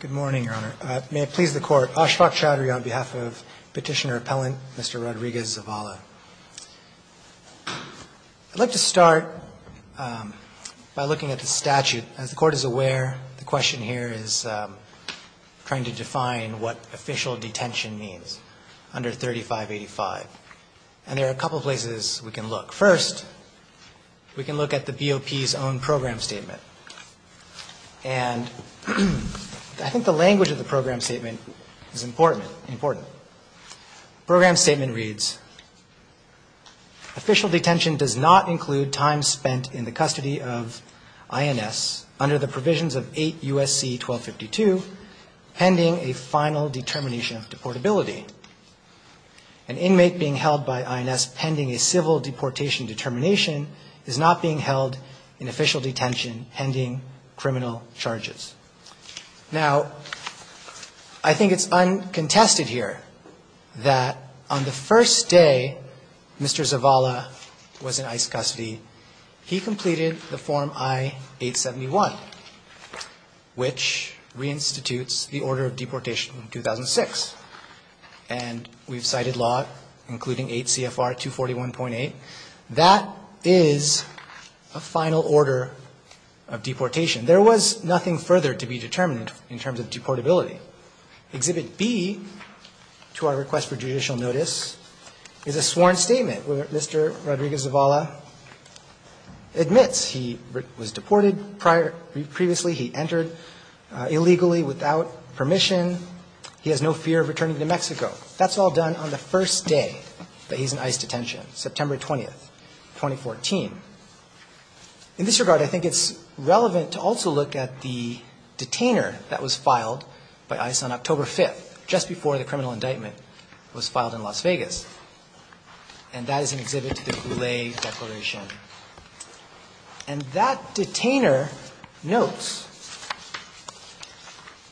Good morning, Your Honor. May it please the Court, Ashfaq Chowdhury on behalf of Petitioner Appellant Mr. Rodriguez Zavala. I'd like to start by looking at the statute. As the Court is aware, the question here is trying to define what official detention means under 3585. And there are a couple places we can look. First, we can look at the BOP's own program statement. And I think the language of the program statement is important, important. Program statement reads, official detention does not include time spent in the custody of INS under the provisions of 8 U.S.C. 1252 pending a final determination of deportability. An inmate being held by INS pending a civil deportation determination is not being held in official detention pending criminal charges. Now, I think it's uncontested here that on the first day Mr. Rodriguez Zavala submitted the form I-871, which reinstitutes the order of deportation in 2006. And we've cited law including 8 CFR 241.8. That is a final order of deportation. There was nothing further to be determined in terms of deportability. Exhibit B to our previously, he entered illegally without permission. He has no fear of returning to Mexico. That's all done on the first day that he's in ICE detention, September 20th, 2014. In this regard, I think it's relevant to also look at the detainer that was filed by ICE on October 5th, just before the criminal indictment was filed in Las Vegas. And that is an exhibit to the Goulet Declaration. And that detainer notes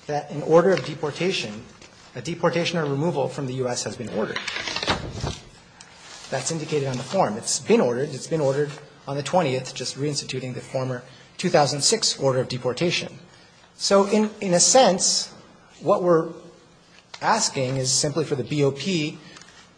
that an order of deportation, a deportation or removal from the U.S. has been ordered. That's indicated on the form. It's been ordered. It's been ordered on the 20th, just reinstituting the former 2006 order of deportation. So in a sense, what we're asking is simply for the BOP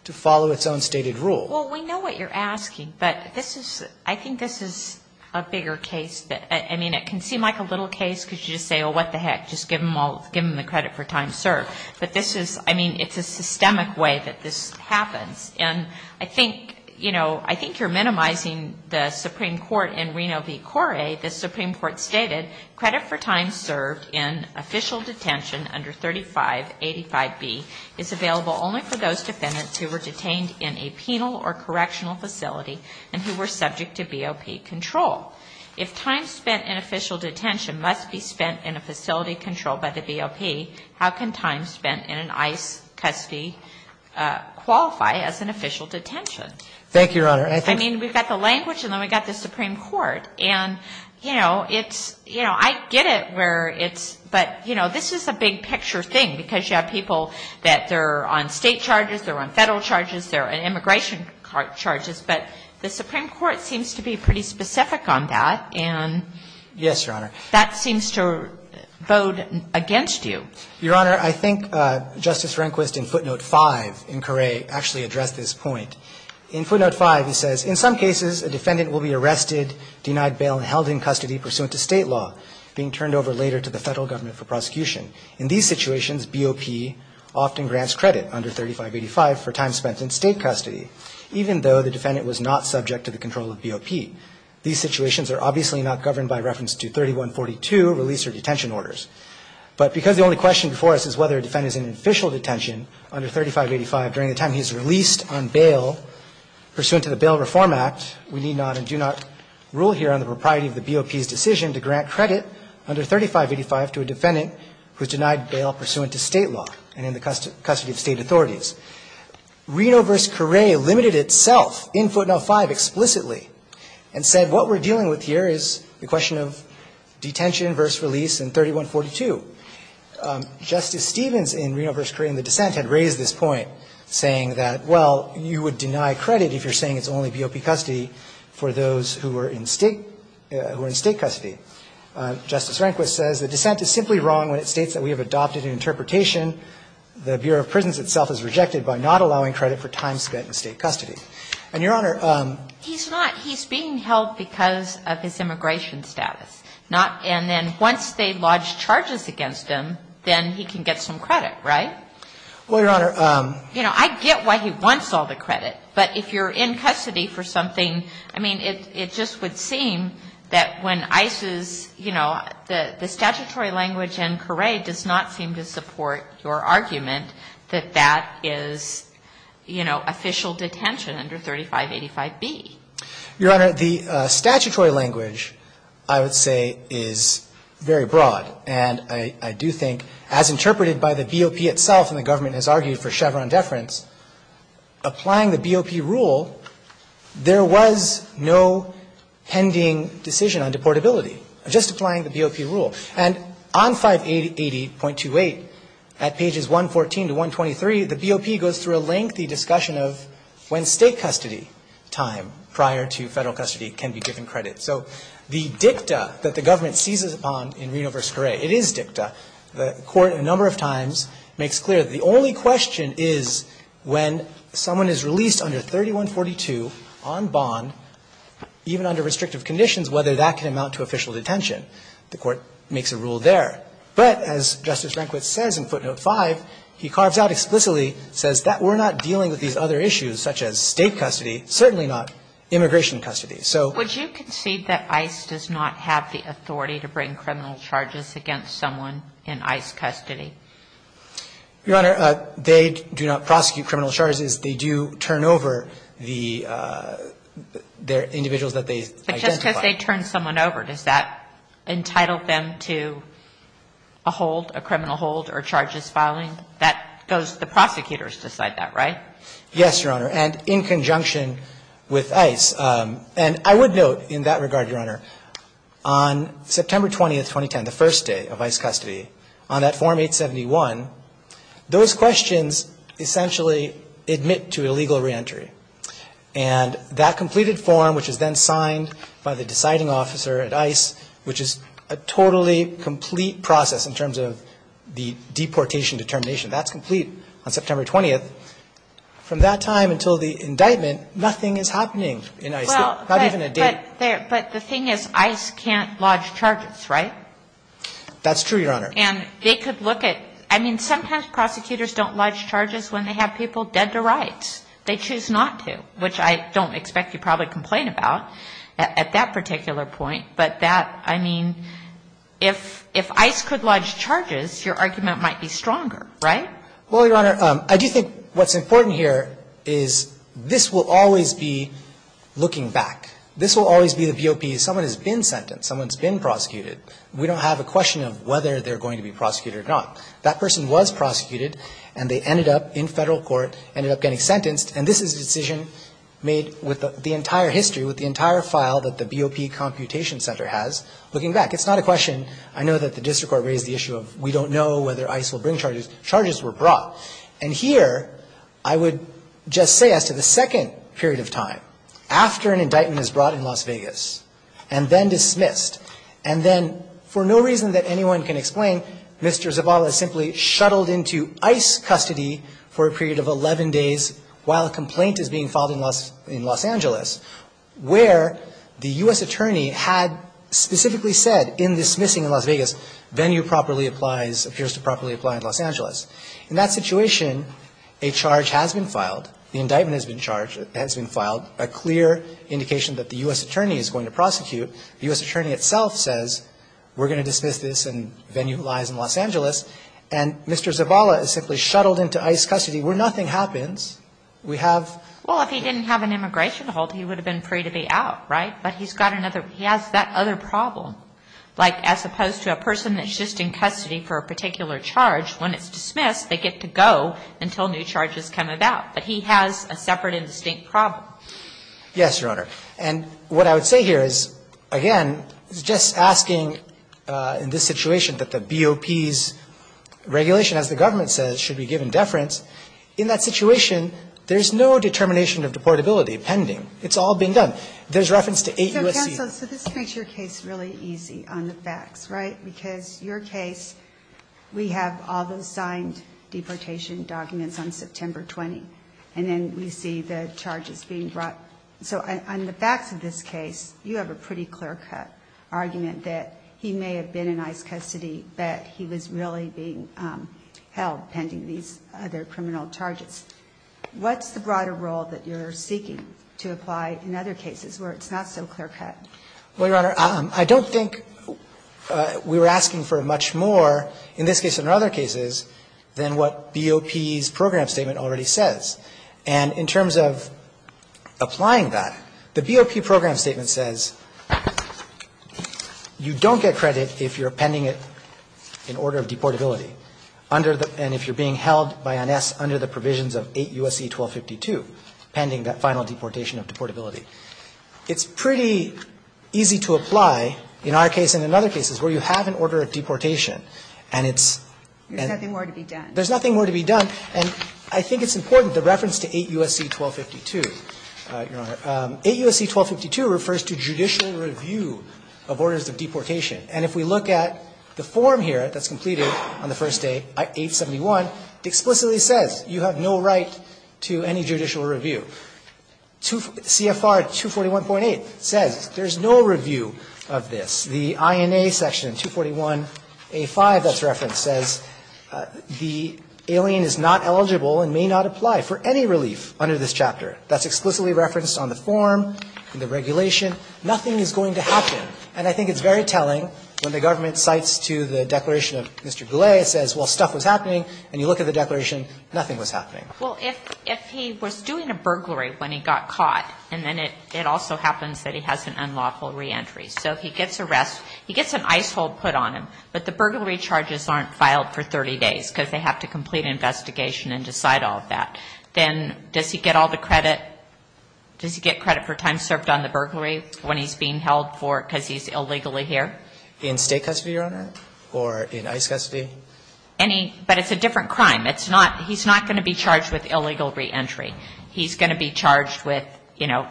to follow its own stated rule. Well, we know what you're asking. But this is, I think this is a bigger case that, I mean, it can seem like a little case because you just say, oh, what the heck, just give them all, give them the credit for time served. But this is, I mean, it's a systemic way that this happens. And I think, you know, I think you're minimizing the Supreme Court in Reno v. Correa. The Supreme Court stated credit for time served in official detention under 3585B is available only for those defendants who were detained in a penal or correctional facility and who were subject to BOP control. If time spent in official detention must be spent in a facility controlled by the BOP, how can time spent in an ICE custody qualify as an official detention? Thank you, Your Honor. I mean, we've got the language and then we've got the Supreme Court. And, you know, it's you know, I get it where it's, but, you know, this is a big picture thing because you have people that they're on State charges, they're on Federal charges, they're on immigration charges. But the Supreme Court seems to be pretty specific on that. And that seems to vote against you. Yes, Your Honor. Your Honor, I think Justice Rehnquist in footnote 5 in Correa actually addressed this point. In footnote 5, he says, In some cases, a defendant will be arrested, denied bail, and held in custody pursuant to State law, being turned over later to the Federal Government for prosecution. In these situations, BOP often grants credit under 3585 for time spent in State custody, even though the defendant was not subject to the control of BOP. These situations are obviously not governed by reference to 3142 release or detention orders. But because the only question before us is whether a defendant is in official detention under 3585 during the time he's released on bail pursuant to the Bail Reform Act, we need not and do not rule here on the propriety of the BOP's decision to grant credit under 3585 to a defendant who's denied bail pursuant to State law and in the custody of State authorities. Reno v. Correa limited itself in footnote 5 explicitly and said what we're dealing with here is the question of detention versus release in 3142. Justice Stevens in Reno v. Correa in the dissent had raised this point, saying that, well, you would deny credit if you're saying it's only BOP custody for those who are in State custody. Justice Rehnquist says the dissent is simply wrong when it states that we have adopted an interpretation the Bureau of Prisons itself has rejected by not allowing credit for time spent in State custody. And, Your Honor ---- He's not. Well, because of his immigration status. And then once they lodge charges against him, then he can get some credit, right? Well, Your Honor ---- You know, I get why he wants all the credit. But if you're in custody for something ---- I mean, it just would seem that when ISIS, you know, the statutory language in Correa does not seem to support your argument that that is, you know, official detention under 3585B. Your Honor, the statutory language, I would say, is very broad. And I do think, as interpreted by the BOP itself, and the government has argued for Chevron deference, applying the BOP rule, there was no pending decision on deportability, just applying the BOP rule. And on 580.28, at pages 114 to 123, the BOP goes through a lengthy discussion of when State custody time prior to Federal custody can be given credit. So the dicta that the government seizes upon in Reno v. Correa, it is dicta. The Court a number of times makes clear the only question is when someone is released under 3142 on bond, even under restrictive conditions, whether that can amount to official detention. The Court makes a rule there. But as Justice Rehnquist says in footnote 5, he carves out explicitly, says that we're not dealing with these other issues such as State custody, certainly not immigration custody. So ---- Would you concede that ICE does not have the authority to bring criminal charges against someone in ICE custody? Your Honor, they do not prosecute criminal charges. They do turn over the individuals that they identify. But just because they turn someone over, does that entitle them to a hold, a criminal hold or charges filing? That goes to the prosecutors to decide that, right? Yes, Your Honor. And in conjunction with ICE. And I would note in that regard, Your Honor, on September 20th, 2010, the first day of ICE custody, on that Form 871, those questions essentially admit to illegal reentry. And that completed form, which is then signed by the deciding officer at ICE, which is a totally complete process in terms of the deportation determination. That's complete on September 20th. From that time until the indictment, nothing is happening in ICE. Not even a date. But the thing is, ICE can't lodge charges, right? That's true, Your Honor. And they could look at ---- I mean, sometimes prosecutors don't lodge charges when they have people dead to rights. They choose not to, which I don't expect you to probably complain about at that particular point. But that, I mean, if ICE could lodge charges, your argument might be stronger, right? Well, Your Honor, I do think what's important here is this will always be looking back. This will always be the BOP. Someone has been sentenced. Someone's been prosecuted. We don't have a question of whether they're going to be prosecuted or not. That person was prosecuted, and they ended up in Federal court, ended up getting sentenced, and this is a decision made with the entire history, with the entire file that the BOP computation center has, looking back. It's not a question. I know that the district court raised the issue of we don't know whether ICE will bring charges. Charges were brought. And here, I would just say as to the second period of time, after an indictment is brought in Las Vegas and then dismissed, and then for no reason that anyone can explain, Mr. Zavala is simply shuttled into ICE custody for a period of 11 days while a complaint is being filed in Los Angeles, where the U.S. attorney had specifically said in dismissing in Las Vegas venue properly applies, appears to properly apply in Los Angeles. In that situation, a charge has been filed, the indictment has been filed, a clear indication that the U.S. attorney is going to prosecute. The U.S. attorney itself says we're going to dismiss this and venue lies in Los Angeles, and Mr. Zavala is simply shuttled into ICE custody where nothing happens. We have the case. Well, if he didn't have an immigration hold, he would have been free to be out, right? But he's got another – he has that other problem. Like, as opposed to a person that's just in custody for a particular charge, when it's dismissed, they get to go until new charges come about. But he has a separate and distinct problem. Yes, Your Honor. And what I would say here is, again, just asking in this situation that the BOP's regulation, as the government says, should be given deference. In that situation, there's no determination of deportability pending. It's all being done. There's reference to eight U.S.C. So, counsel, so this makes your case really easy on the facts, right? Because your case, we have all those signed deportation documents on September 20, and then we see the charges being brought. So on the facts of this case, you have a pretty clear-cut argument that he may have been in ICE custody, but he was really being held pending these other criminal charges. What's the broader role that you're seeking to apply in other cases where it's not so clear-cut? Well, Your Honor, I don't think we're asking for much more in this case and other cases than what BOP's program statement already says. And in terms of applying that, the BOP program statement says you don't get credit if you're pending an order of deportability and if you're being held by NS under the provisions of 8 U.S.C. 1252, pending that final deportation of deportability. It's pretty easy to apply in our case and in other cases where you have an order of deportation and it's and there's nothing more to be done. There's nothing more to be done. And I think it's important, the reference to 8 U.S.C. 1252, Your Honor. 8 U.S.C. 1252 refers to judicial review of orders of deportation. And if we look at the form here that's completed on the first day, 871, it explicitly says you have no right to any judicial review. CFR 241.8 says there's no review of this. The INA section 241A5 that's referenced says the alien is not eligible and may not apply for any relief under this chapter. That's explicitly referenced on the form and the regulation. Nothing is going to happen. And I think it's very telling when the government cites to the declaration of Mr. Goulet, it says, well, stuff was happening, and you look at the declaration, nothing was happening. Well, if he was doing a burglary when he got caught, and then it also happens that he has an unlawful reentry. So if he gets arrested, he gets an ice hole put on him, but the burglary charges aren't filed for 30 days because they have to complete an investigation and decide all of that. Then does he get all the credit? Does he get credit for time served on the burglary when he's being held for it because he's illegally here? In state custody, Your Honor? Or in ice custody? Any. But it's a different crime. It's not. He's not going to be charged with illegal reentry. He's going to be charged with, you know,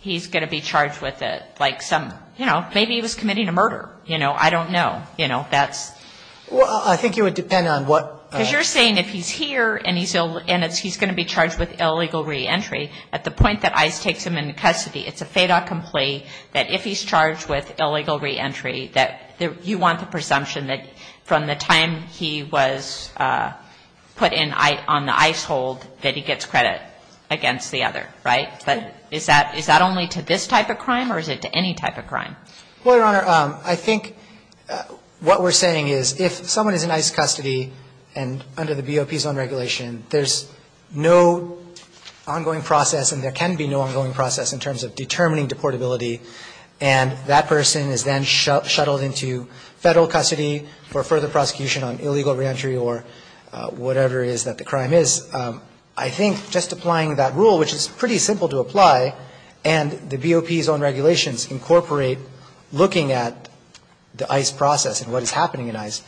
he's going to be charged with like some, you know, maybe he was committing a murder. You know, I don't know. You know, that's. Well, I think it would depend on what. Because you're saying if he's here and he's going to be charged with illegal reentry at the point that ICE takes him into custody, it's a fait accompli that if he's charged with illegal reentry that you want the presumption that from the time he was put on the ice hold that he gets credit against the other, right? But is that only to this type of crime or is it to any type of crime? Well, Your Honor, I think what we're saying is if someone is in ICE custody and under the BOP zone regulation, there's no ongoing process and there can be no ongoing process in terms of determining deportability, and that person is then shuttled into Federal custody for further prosecution on illegal reentry or whatever it is that the crime is, I think just applying that rule, which is pretty simple to apply, and the BOP zone regulations incorporate looking at the ICE process and what is happening in ICE,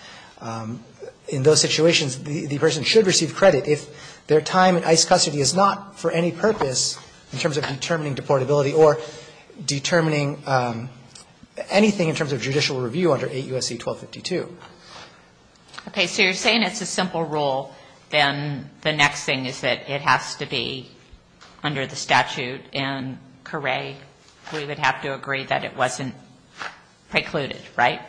in those situations the person should receive credit if their time in ICE custody is not for any purpose in terms of determining deportability or determining anything in terms of judicial review under 8 U.S.C. 1252. Okay. So you're saying it's a simple rule. Then the next thing is that it has to be under the statute in Caray. We would have to agree that it wasn't precluded, right?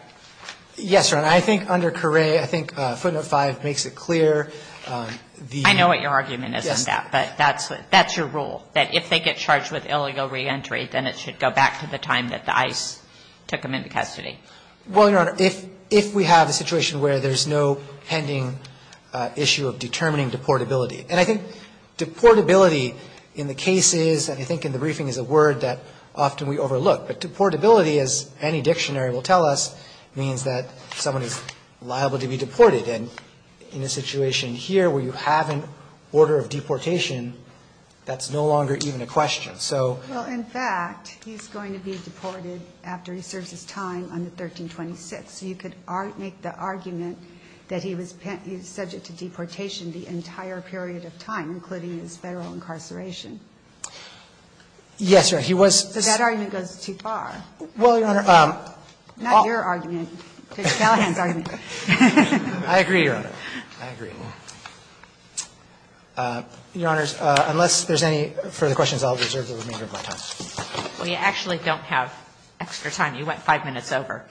Yes, Your Honor. I think under Caray, I think footnote 5 makes it clear. I know what your argument is on that. Yes. But that's your rule, that if they get charged with illegal reentry, then it should go back to the time that the ICE took them into custody. Well, Your Honor, if we have a situation where there's no pending issue of determining deportability, and I think deportability in the case is, and I think in the briefing is a word that often we overlook. But deportability, as any dictionary will tell us, means that someone is liable to be deported. And in a situation here where you have an order of deportation, that's no longer even a question. So ---- Well, in fact, he's going to be deported after he serves his time under 1326. So you could make the argument that he was subject to deportation the entire period of time, including his Federal incarceration. Yes, Your Honor. He was ---- So that argument goes too far. Well, Your Honor ---- Not your argument. It's Gallagher's argument. I agree, Your Honor. I agree. Your Honors, unless there's any further questions, I'll reserve the remainder of my time. Well, you actually don't have extra time. You went 5 minutes over.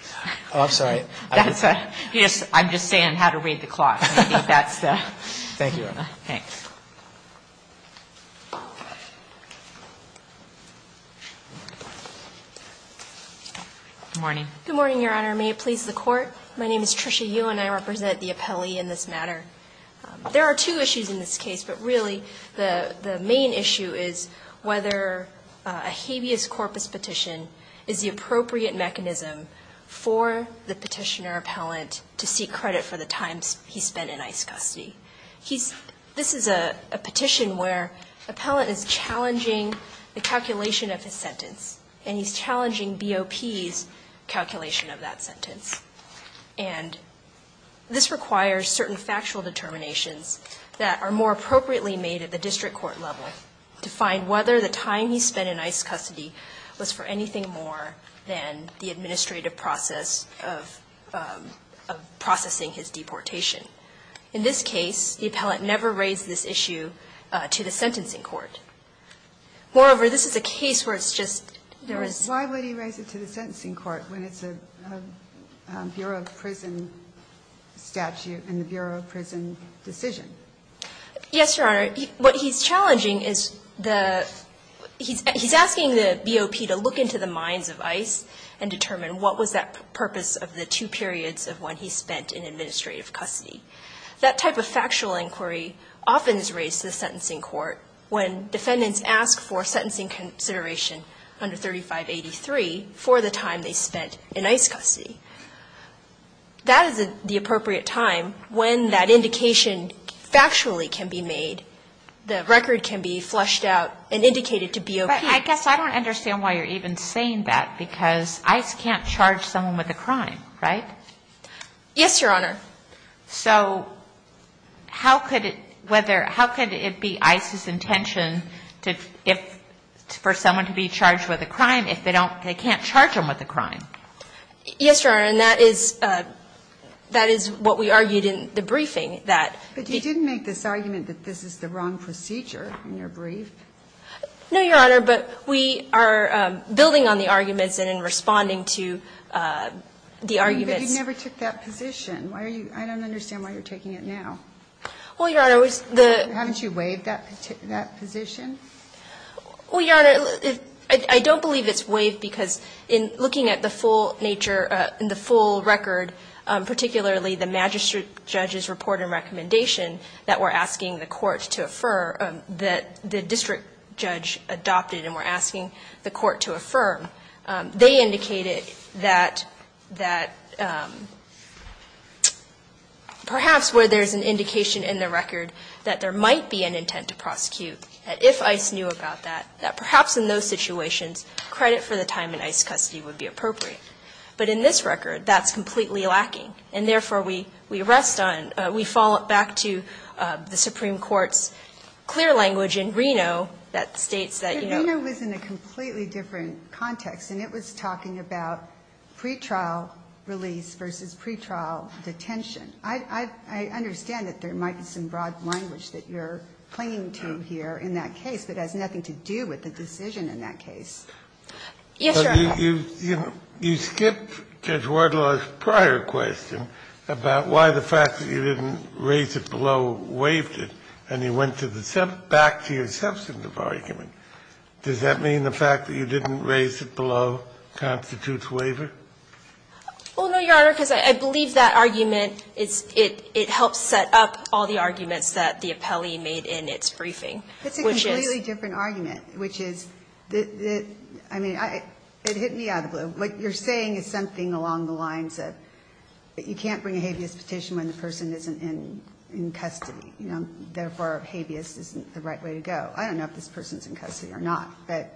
Oh, I'm sorry. I'm just saying how to read the clock. That's the ---- Thank you, Your Honor. Thanks. Good morning. Good morning, Your Honor. May it please the Court. My name is Tricia Yu, and I represent the appellee in this matter. There are two issues in this case, but really the main issue is whether a habeas corpus petition is the appropriate mechanism for the petitioner appellant to seek credit for the time he spent in ICE custody. This is a petition where appellant is challenging the calculation of his sentence, and he's challenging BOP's calculation of that sentence. And this requires certain factual determinations that are more appropriately made at the district court level to find whether the time he spent in ICE custody was for anything more than the administrative process of processing his deportation. In this case, the appellant never raised this issue to the sentencing court. Moreover, this is a case where it's just ---- Why would he raise it to the sentencing court when it's a Bureau of Prison statute and the Bureau of Prison decision? Yes, Your Honor. What he's challenging is the ---- he's asking the BOP to look into the mines of ICE and determine what was that purpose of the two periods of when he spent in administrative custody. That type of factual inquiry often is raised to the sentencing court when defendants ask for sentencing consideration under 3583 for the time they spent in ICE custody. That is the appropriate time when that indication factually can be made. The record can be flushed out and indicated to BOP. But I guess I don't understand why you're even saying that, because ICE can't charge someone with a crime, right? Yes, Your Honor. So how could it be ICE's intention for someone to be charged with a crime if they can't charge them with a crime? Yes, Your Honor. And that is what we argued in the briefing, that ---- But you didn't make this argument that this is the wrong procedure in your brief. No, Your Honor. But we are building on the arguments and in responding to the arguments ---- I don't understand why you're taking it now. Well, Your Honor, the ---- Haven't you waived that position? Well, Your Honor, I don't believe it's waived, because in looking at the full nature ---- in the full record, particularly the magistrate judge's report and recommendation that we're asking the court to affirm, that the district judge adopted and we're indicating that perhaps where there's an indication in the record that there might be an intent to prosecute, that if ICE knew about that, that perhaps in those situations credit for the time in ICE custody would be appropriate. But in this record, that's completely lacking. And therefore, we rest on ---- we fall back to the Supreme Court's clear language in Reno that states that, you know ---- It's a completely different context. And it was talking about pretrial release versus pretrial detention. I understand that there might be some broad language that you're clinging to here in that case, but it has nothing to do with the decision in that case. Yes, Your Honor. You skipped Judge Wardlaw's prior question about why the fact that you didn't raise it below waived it, and you went back to your substantive argument. Does that mean the fact that you didn't raise it below constitutes waiver? Well, no, Your Honor, because I believe that argument is it helps set up all the arguments that the appellee made in its briefing, which is ---- It's a completely different argument, which is the ---- I mean, it hit me out of the blue. What you're saying is something along the lines of you can't bring a habeas petition when the person isn't in custody. You know, therefore, habeas isn't the right way to go. I don't know if this person is in custody or not, but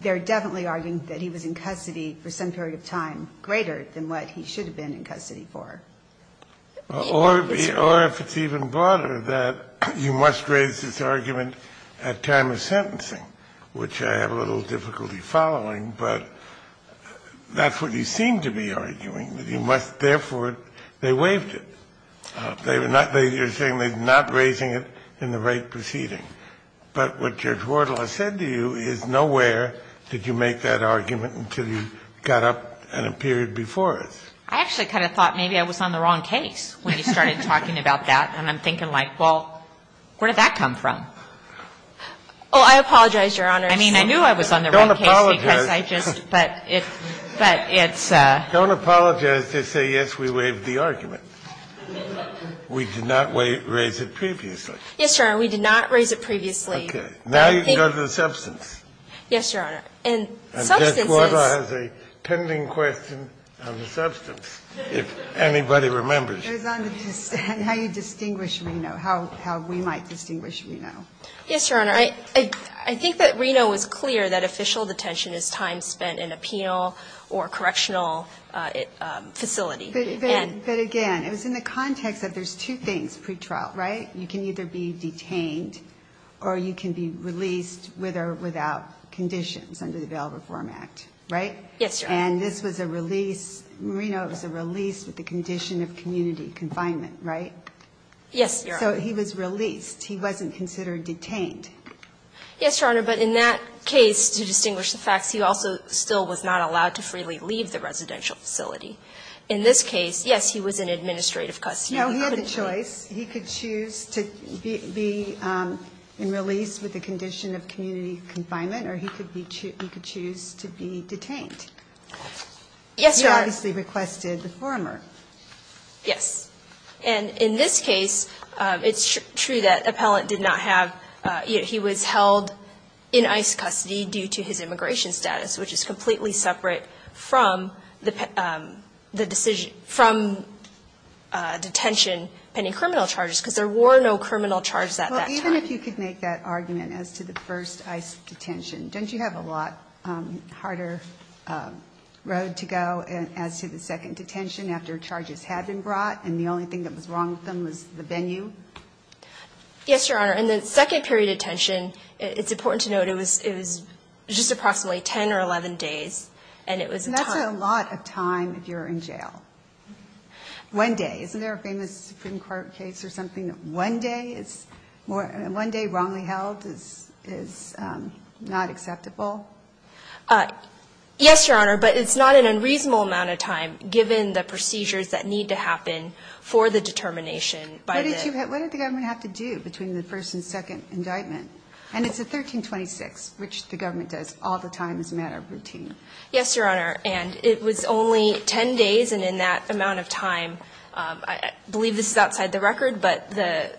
they're definitely arguing that he was in custody for some period of time greater than what he should have been in custody for. Or if it's even broader, that you must raise this argument at time of sentencing, which I have a little difficulty following, but that's what you seem to be arguing, that you must therefore, they waived it. You're saying they're not raising it in the right proceeding. But what Judge Wardle has said to you is nowhere did you make that argument until you got up in a period before it. I actually kind of thought maybe I was on the wrong case when you started talking about that, and I'm thinking like, well, where did that come from? Oh, I apologize, Your Honor. I mean, I knew I was on the wrong case because I just ---- Don't apologize. But it's a ---- Don't apologize. Just say, yes, we waived the argument. We did not raise it previously. Yes, Your Honor. We did not raise it previously. Okay. Now you can go to the substance. Yes, Your Honor. And substance is ---- And Judge Wardle has a pending question on the substance, if anybody remembers. It was on how you distinguish Reno, how we might distinguish Reno. Yes, Your Honor. I think that Reno is clear that official detention is time spent in a penal or correctional facility. But again, it was in the context that there's two things pre-trial, right? You can either be detained or you can be released with or without conditions under the Bail Reform Act, right? Yes, Your Honor. And this was a release, Reno was a release with the condition of community confinement, right? Yes, Your Honor. So he was released. He wasn't considered detained. Yes, Your Honor. But in that case, to distinguish the facts, he also still was not allowed to freely leave the residential facility. In this case, yes, he was in administrative custody. No, he had the choice. He could choose to be released with the condition of community confinement or he could choose to be detained. Yes, Your Honor. He obviously requested the former. Yes. And in this case, it's true that appellant did not have ---- he was held in ICE custody due to his immigration status, which is completely separate from the decision ---- from detention pending criminal charges, because there were no criminal charges at that time. Well, even if you could make that argument as to the first ICE detention, don't you have a lot harder road to go as to the second detention after charges had been brought and the only thing that was wrong with them was the venue? Yes, Your Honor. And the second period of detention, it's important to note it was just approximately 10 or 11 days, and it was a time ---- And that's a lot of time if you're in jail. One day. Isn't there a famous Supreme Court case or something that one day is more ---- one day wrongly held is not acceptable? Yes, Your Honor, but it's not an unreasonable amount of time given the procedures that need to happen for the determination by the ---- second indictment. And it's a 1326, which the government does all the time as a matter of routine. Yes, Your Honor. And it was only 10 days, and in that amount of time, I believe this is outside the record, but the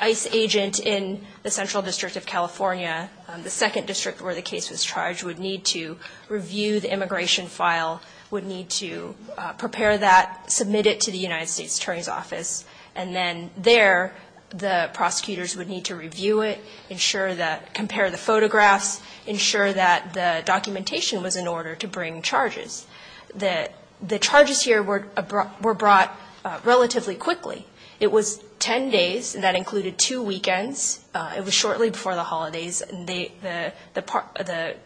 ICE agent in the Central District of California, the second district where the case was charged, would need to review the immigration file, would need to prepare that, submit it to the United States Attorney's Office, and then there the prosecutors would need to review it, ensure that ---- compare the photographs, ensure that the documentation was in order to bring charges. The charges here were brought relatively quickly. It was 10 days, and that included two weekends. It was shortly before the holidays. The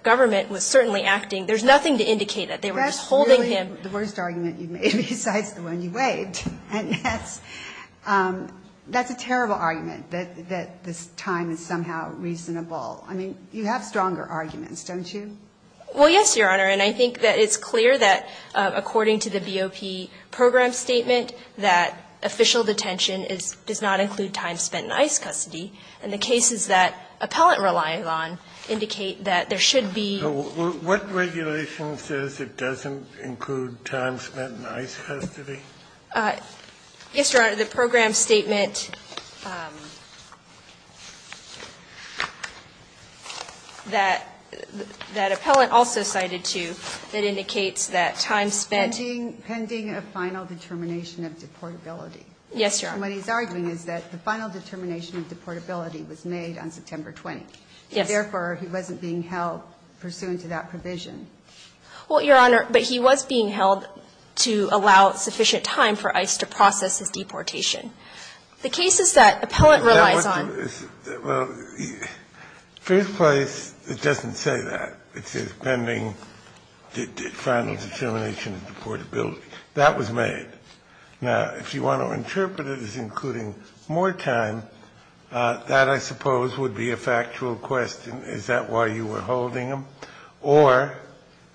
government was certainly acting. There's nothing to indicate that. They were just holding him. The worst argument you've made besides the one you waived. And that's a terrible argument, that this time is somehow reasonable. I mean, you have stronger arguments, don't you? Well, yes, Your Honor, and I think that it's clear that according to the BOP program statement, that official detention does not include time spent in ICE custody. And the cases that Appellant relies on indicate that there should be ---- So what regulation says it doesn't include time spent in ICE custody? Yes, Your Honor, the program statement that Appellant also cited, too, that indicates that time spent ---- Pending a final determination of deportability. Yes, Your Honor. And what he's arguing is that the final determination of deportability was made on September 20th. Yes. And therefore, he wasn't being held pursuant to that provision. Well, Your Honor, but he was being held to allow sufficient time for ICE to process his deportation. The cases that Appellant relies on ---- Well, first place, it doesn't say that. It says pending the final determination of deportability. That was made. Now, if you want to interpret it as including more time, that, I suppose, would be a factual question. Is that why you were holding him? Or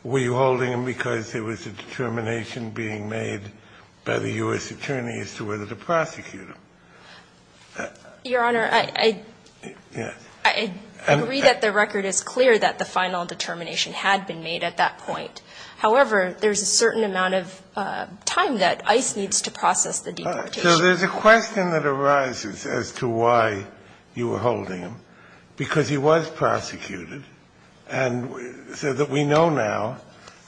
were you holding him because there was a determination being made by the U.S. attorney as to whether to prosecute him? Your Honor, I agree that the record is clear that the final determination had been made at that point. However, there's a certain amount of time that ICE needs to process the deportation. So there's a question that arises as to why you were holding him, because he was prosecuted and so that we know now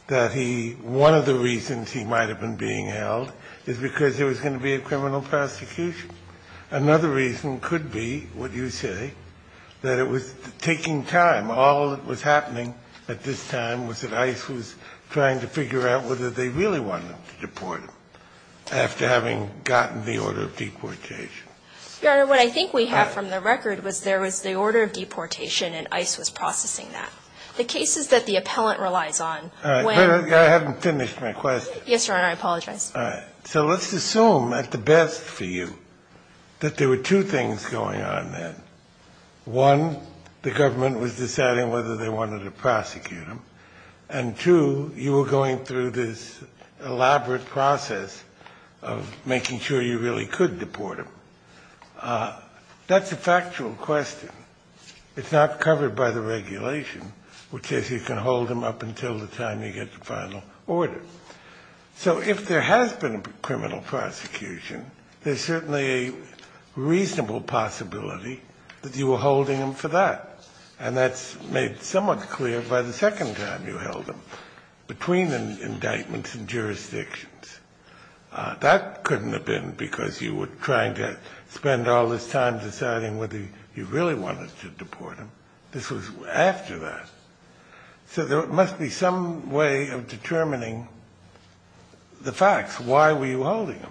that he ---- one of the reasons he might have been being held is because there was going to be a criminal prosecution. Another reason could be, what you say, that it was taking time. All that was happening at this time was that ICE was trying to figure out whether they really wanted him to deport him after having gotten the order of deportation. Your Honor, what I think we have from the record was there was the order of deportation and ICE was processing that. The cases that the appellant relies on when ---- All right. I haven't finished my question. Yes, Your Honor. I apologize. All right. So let's assume at the best for you that there were two things going on then. One, the government was deciding whether they wanted to prosecute him. And two, you were going through this elaborate process of making sure you really could deport him. That's a factual question. It's not covered by the regulation, which is you can hold him up until the time you get the final order. So if there has been a criminal prosecution, there's certainly a reasonable possibility that you were holding him for that. And that's made somewhat clear by the second time you held him, between indictments and jurisdictions. That couldn't have been because you were trying to spend all this time deciding whether you really wanted to deport him. This was after that. So there must be some way of determining the facts. Why were you holding him?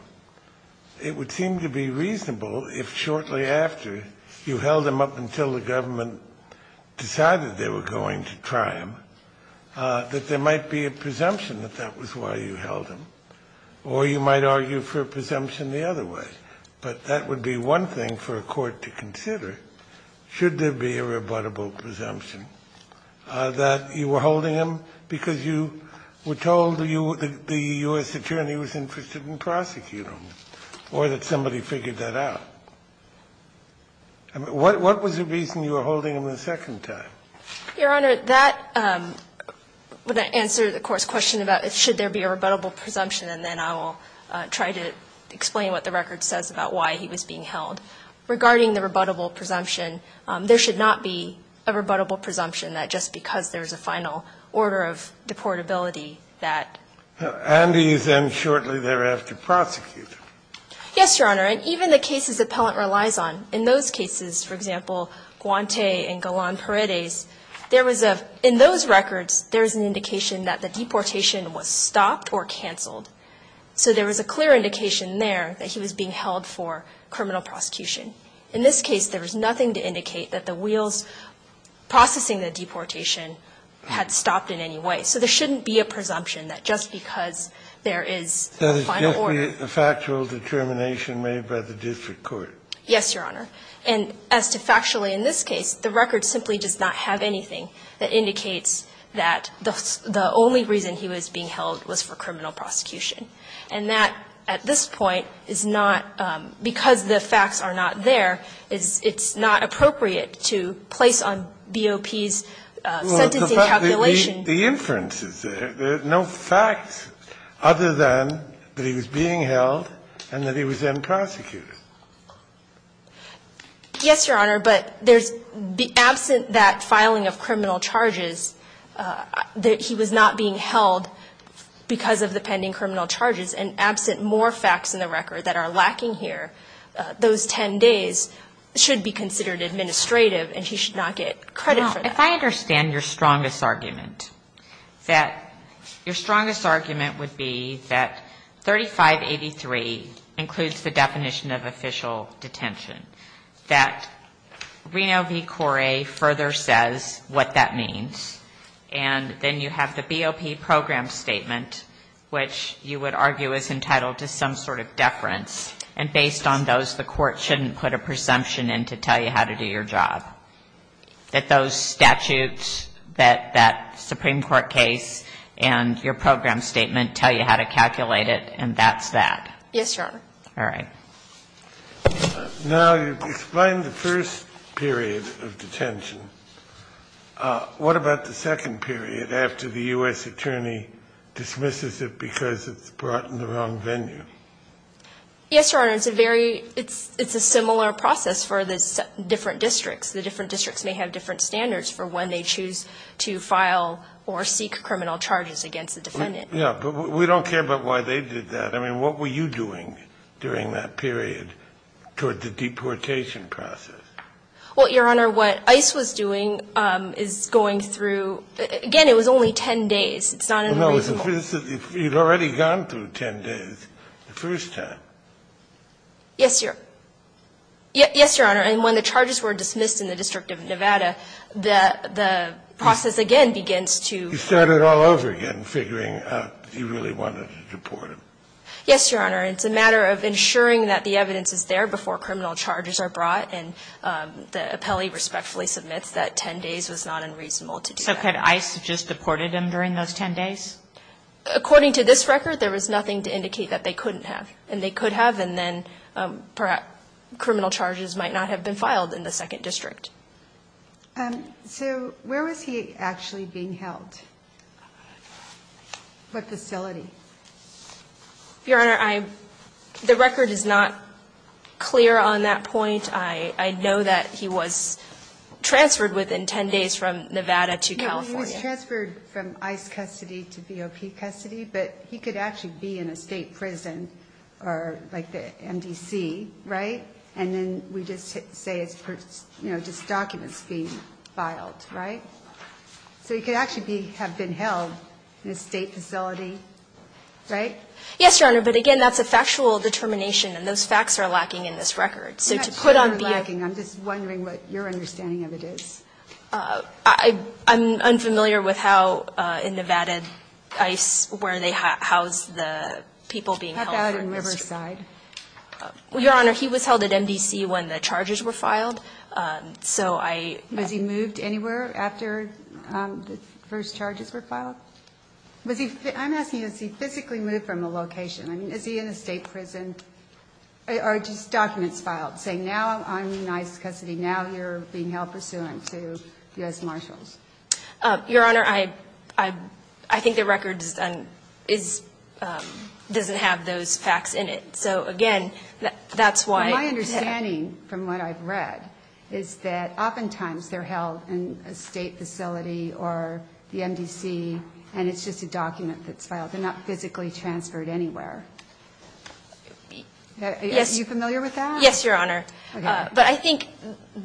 It would seem to be reasonable if shortly after you held him up until the government decided they were going to try him, that there might be a presumption that that was why you held him. Or you might argue for a presumption the other way. But that would be one thing for a court to consider, should there be a rebuttable presumption, that you were holding him because you were told the U.S. attorney was interested in prosecuting him, or that somebody figured that out. What was the reason you were holding him the second time? Your Honor, that would answer the court's question about, should there be a rebuttable presumption, and then I will try to explain what the record says about why he was being held. Regarding the rebuttable presumption, there should not be a rebuttable presumption that just because there's a final order of deportability that Andy is then shortly thereafter prosecuted. Yes, Your Honor. And even the cases Appellant relies on, in those cases, for example, Guante and Galán Paredes, there was a – in those records, there was an indication that the deportation was stopped or canceled. So there was a clear indication there that he was being held for criminal prosecution. In this case, there was nothing to indicate that the wheels processing the deportation had stopped in any way. So there shouldn't be a presumption that just because there is a final order. And that's the question raised by the district court. Yes, Your Honor. And as to factually, in this case, the record simply does not have anything that indicates that the only reason he was being held was for criminal prosecution. And that, at this point, is not – because the facts are not there, it's not appropriate to place on BOP's sentencing calculation. Well, the fact that the inference is there. There are no facts other than that he was being held and that he was then prosecuted. Yes, Your Honor, but there's – absent that filing of criminal charges, that he was not being held because of the pending criminal charges, and absent more facts in the record that are lacking here, those 10 days should be considered administrative and he should not get credit for that. If I understand your strongest argument, that – your strongest argument would be that 3583 includes the definition of official detention, that Reno v. Corre further says what that means, and then you have the BOP program statement, which you would argue is entitled to some sort of deference, and based on those, the court shouldn't put a presumption in to tell you how to do your job. That those statutes that – that Supreme Court case and your program statement tell you how to calculate it, and that's that. Yes, Your Honor. All right. Now, you've explained the first period of detention. What about the second period after the U.S. attorney dismisses it because it's brought in the wrong venue? Yes, Your Honor. It's a very – it's a similar process for the different districts. The different districts may have different standards for when they choose to file or seek criminal charges against the defendant. Yeah. But we don't care about why they did that. I mean, what were you doing during that period toward the deportation process? Well, Your Honor, what ICE was doing is going through – again, it was only 10 days. It's not unreasonable. No. You'd already gone through 10 days the first time. Yes, Your – yes, Your Honor. And when the charges were dismissed in the District of Nevada, the process again begins to – You started all over again figuring out if you really wanted to deport him. Yes, Your Honor. It's a matter of ensuring that the evidence is there before criminal charges are brought, and the appellee respectfully submits that 10 days was not unreasonable to do that. So could ICE have just deported him during those 10 days? According to this record, there was nothing to indicate that they couldn't have. And they could have, and then perhaps criminal charges might not have been filed in the second district. So where was he actually being held? What facility? Your Honor, I – the record is not clear on that point. I know that he was transferred within 10 days from Nevada to California. No, he was transferred from ICE custody to VOP custody, but he could actually be in a state prison or like the MDC, right? And then we just say it's, you know, just documents being filed, right? So he could actually be – have been held in a state facility, right? Yes, Your Honor, but again, that's a factual determination, and those facts are lacking in this record. So to put on – I'm not sure they're lacking. I'm just wondering what your understanding of it is. I'm unfamiliar with how in Nevada ICE, where they house the people being held. How about in Riverside? Your Honor, he was held at MDC when the charges were filed. So I – Was he moved anywhere after the first charges were filed? Was he – I'm asking, has he physically moved from a location? I mean, is he in a state prison? Or are just documents filed saying now I'm in ICE custody, now you're being held pursuant to U.S. Marshals? Your Honor, I think the record doesn't have those facts in it. So again, that's why – My understanding from what I've read is that oftentimes they're held in a state facility or the MDC, and it's just a document that's filed. They're not physically transferred anywhere. Are you familiar with that? Yes, Your Honor. Okay. But I think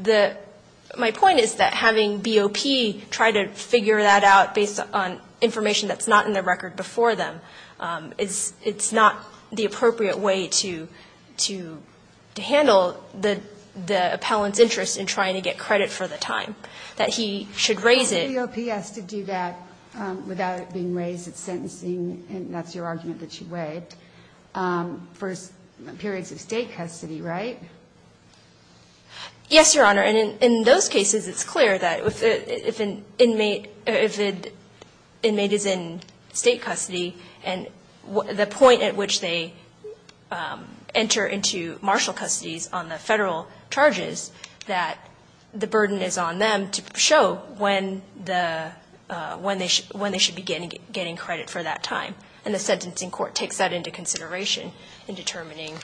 the – my point is that having BOP try to figure that out based on information that's not in the record before them, it's not the appropriate way to handle the appellant's interest in trying to get credit for the time, that he should raise it. BOP has to do that without it being raised. It's sentencing, and that's your argument that you weighed, for periods of state custody, right? Yes, Your Honor. And in those cases, it's clear that if an inmate – if an inmate is in state custody and the point at which they enter into marshal custodies on the Federal charges, that the burden is on them to show when the – when they should be getting credit for that time. And the sentencing court takes that into consideration in determining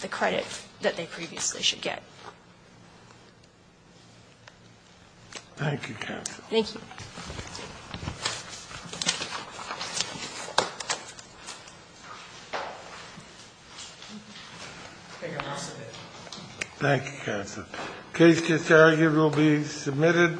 the credit that they previously should get. Thank you, counsel. Thank you. Thank you, counsel. Case disargued will be submitted.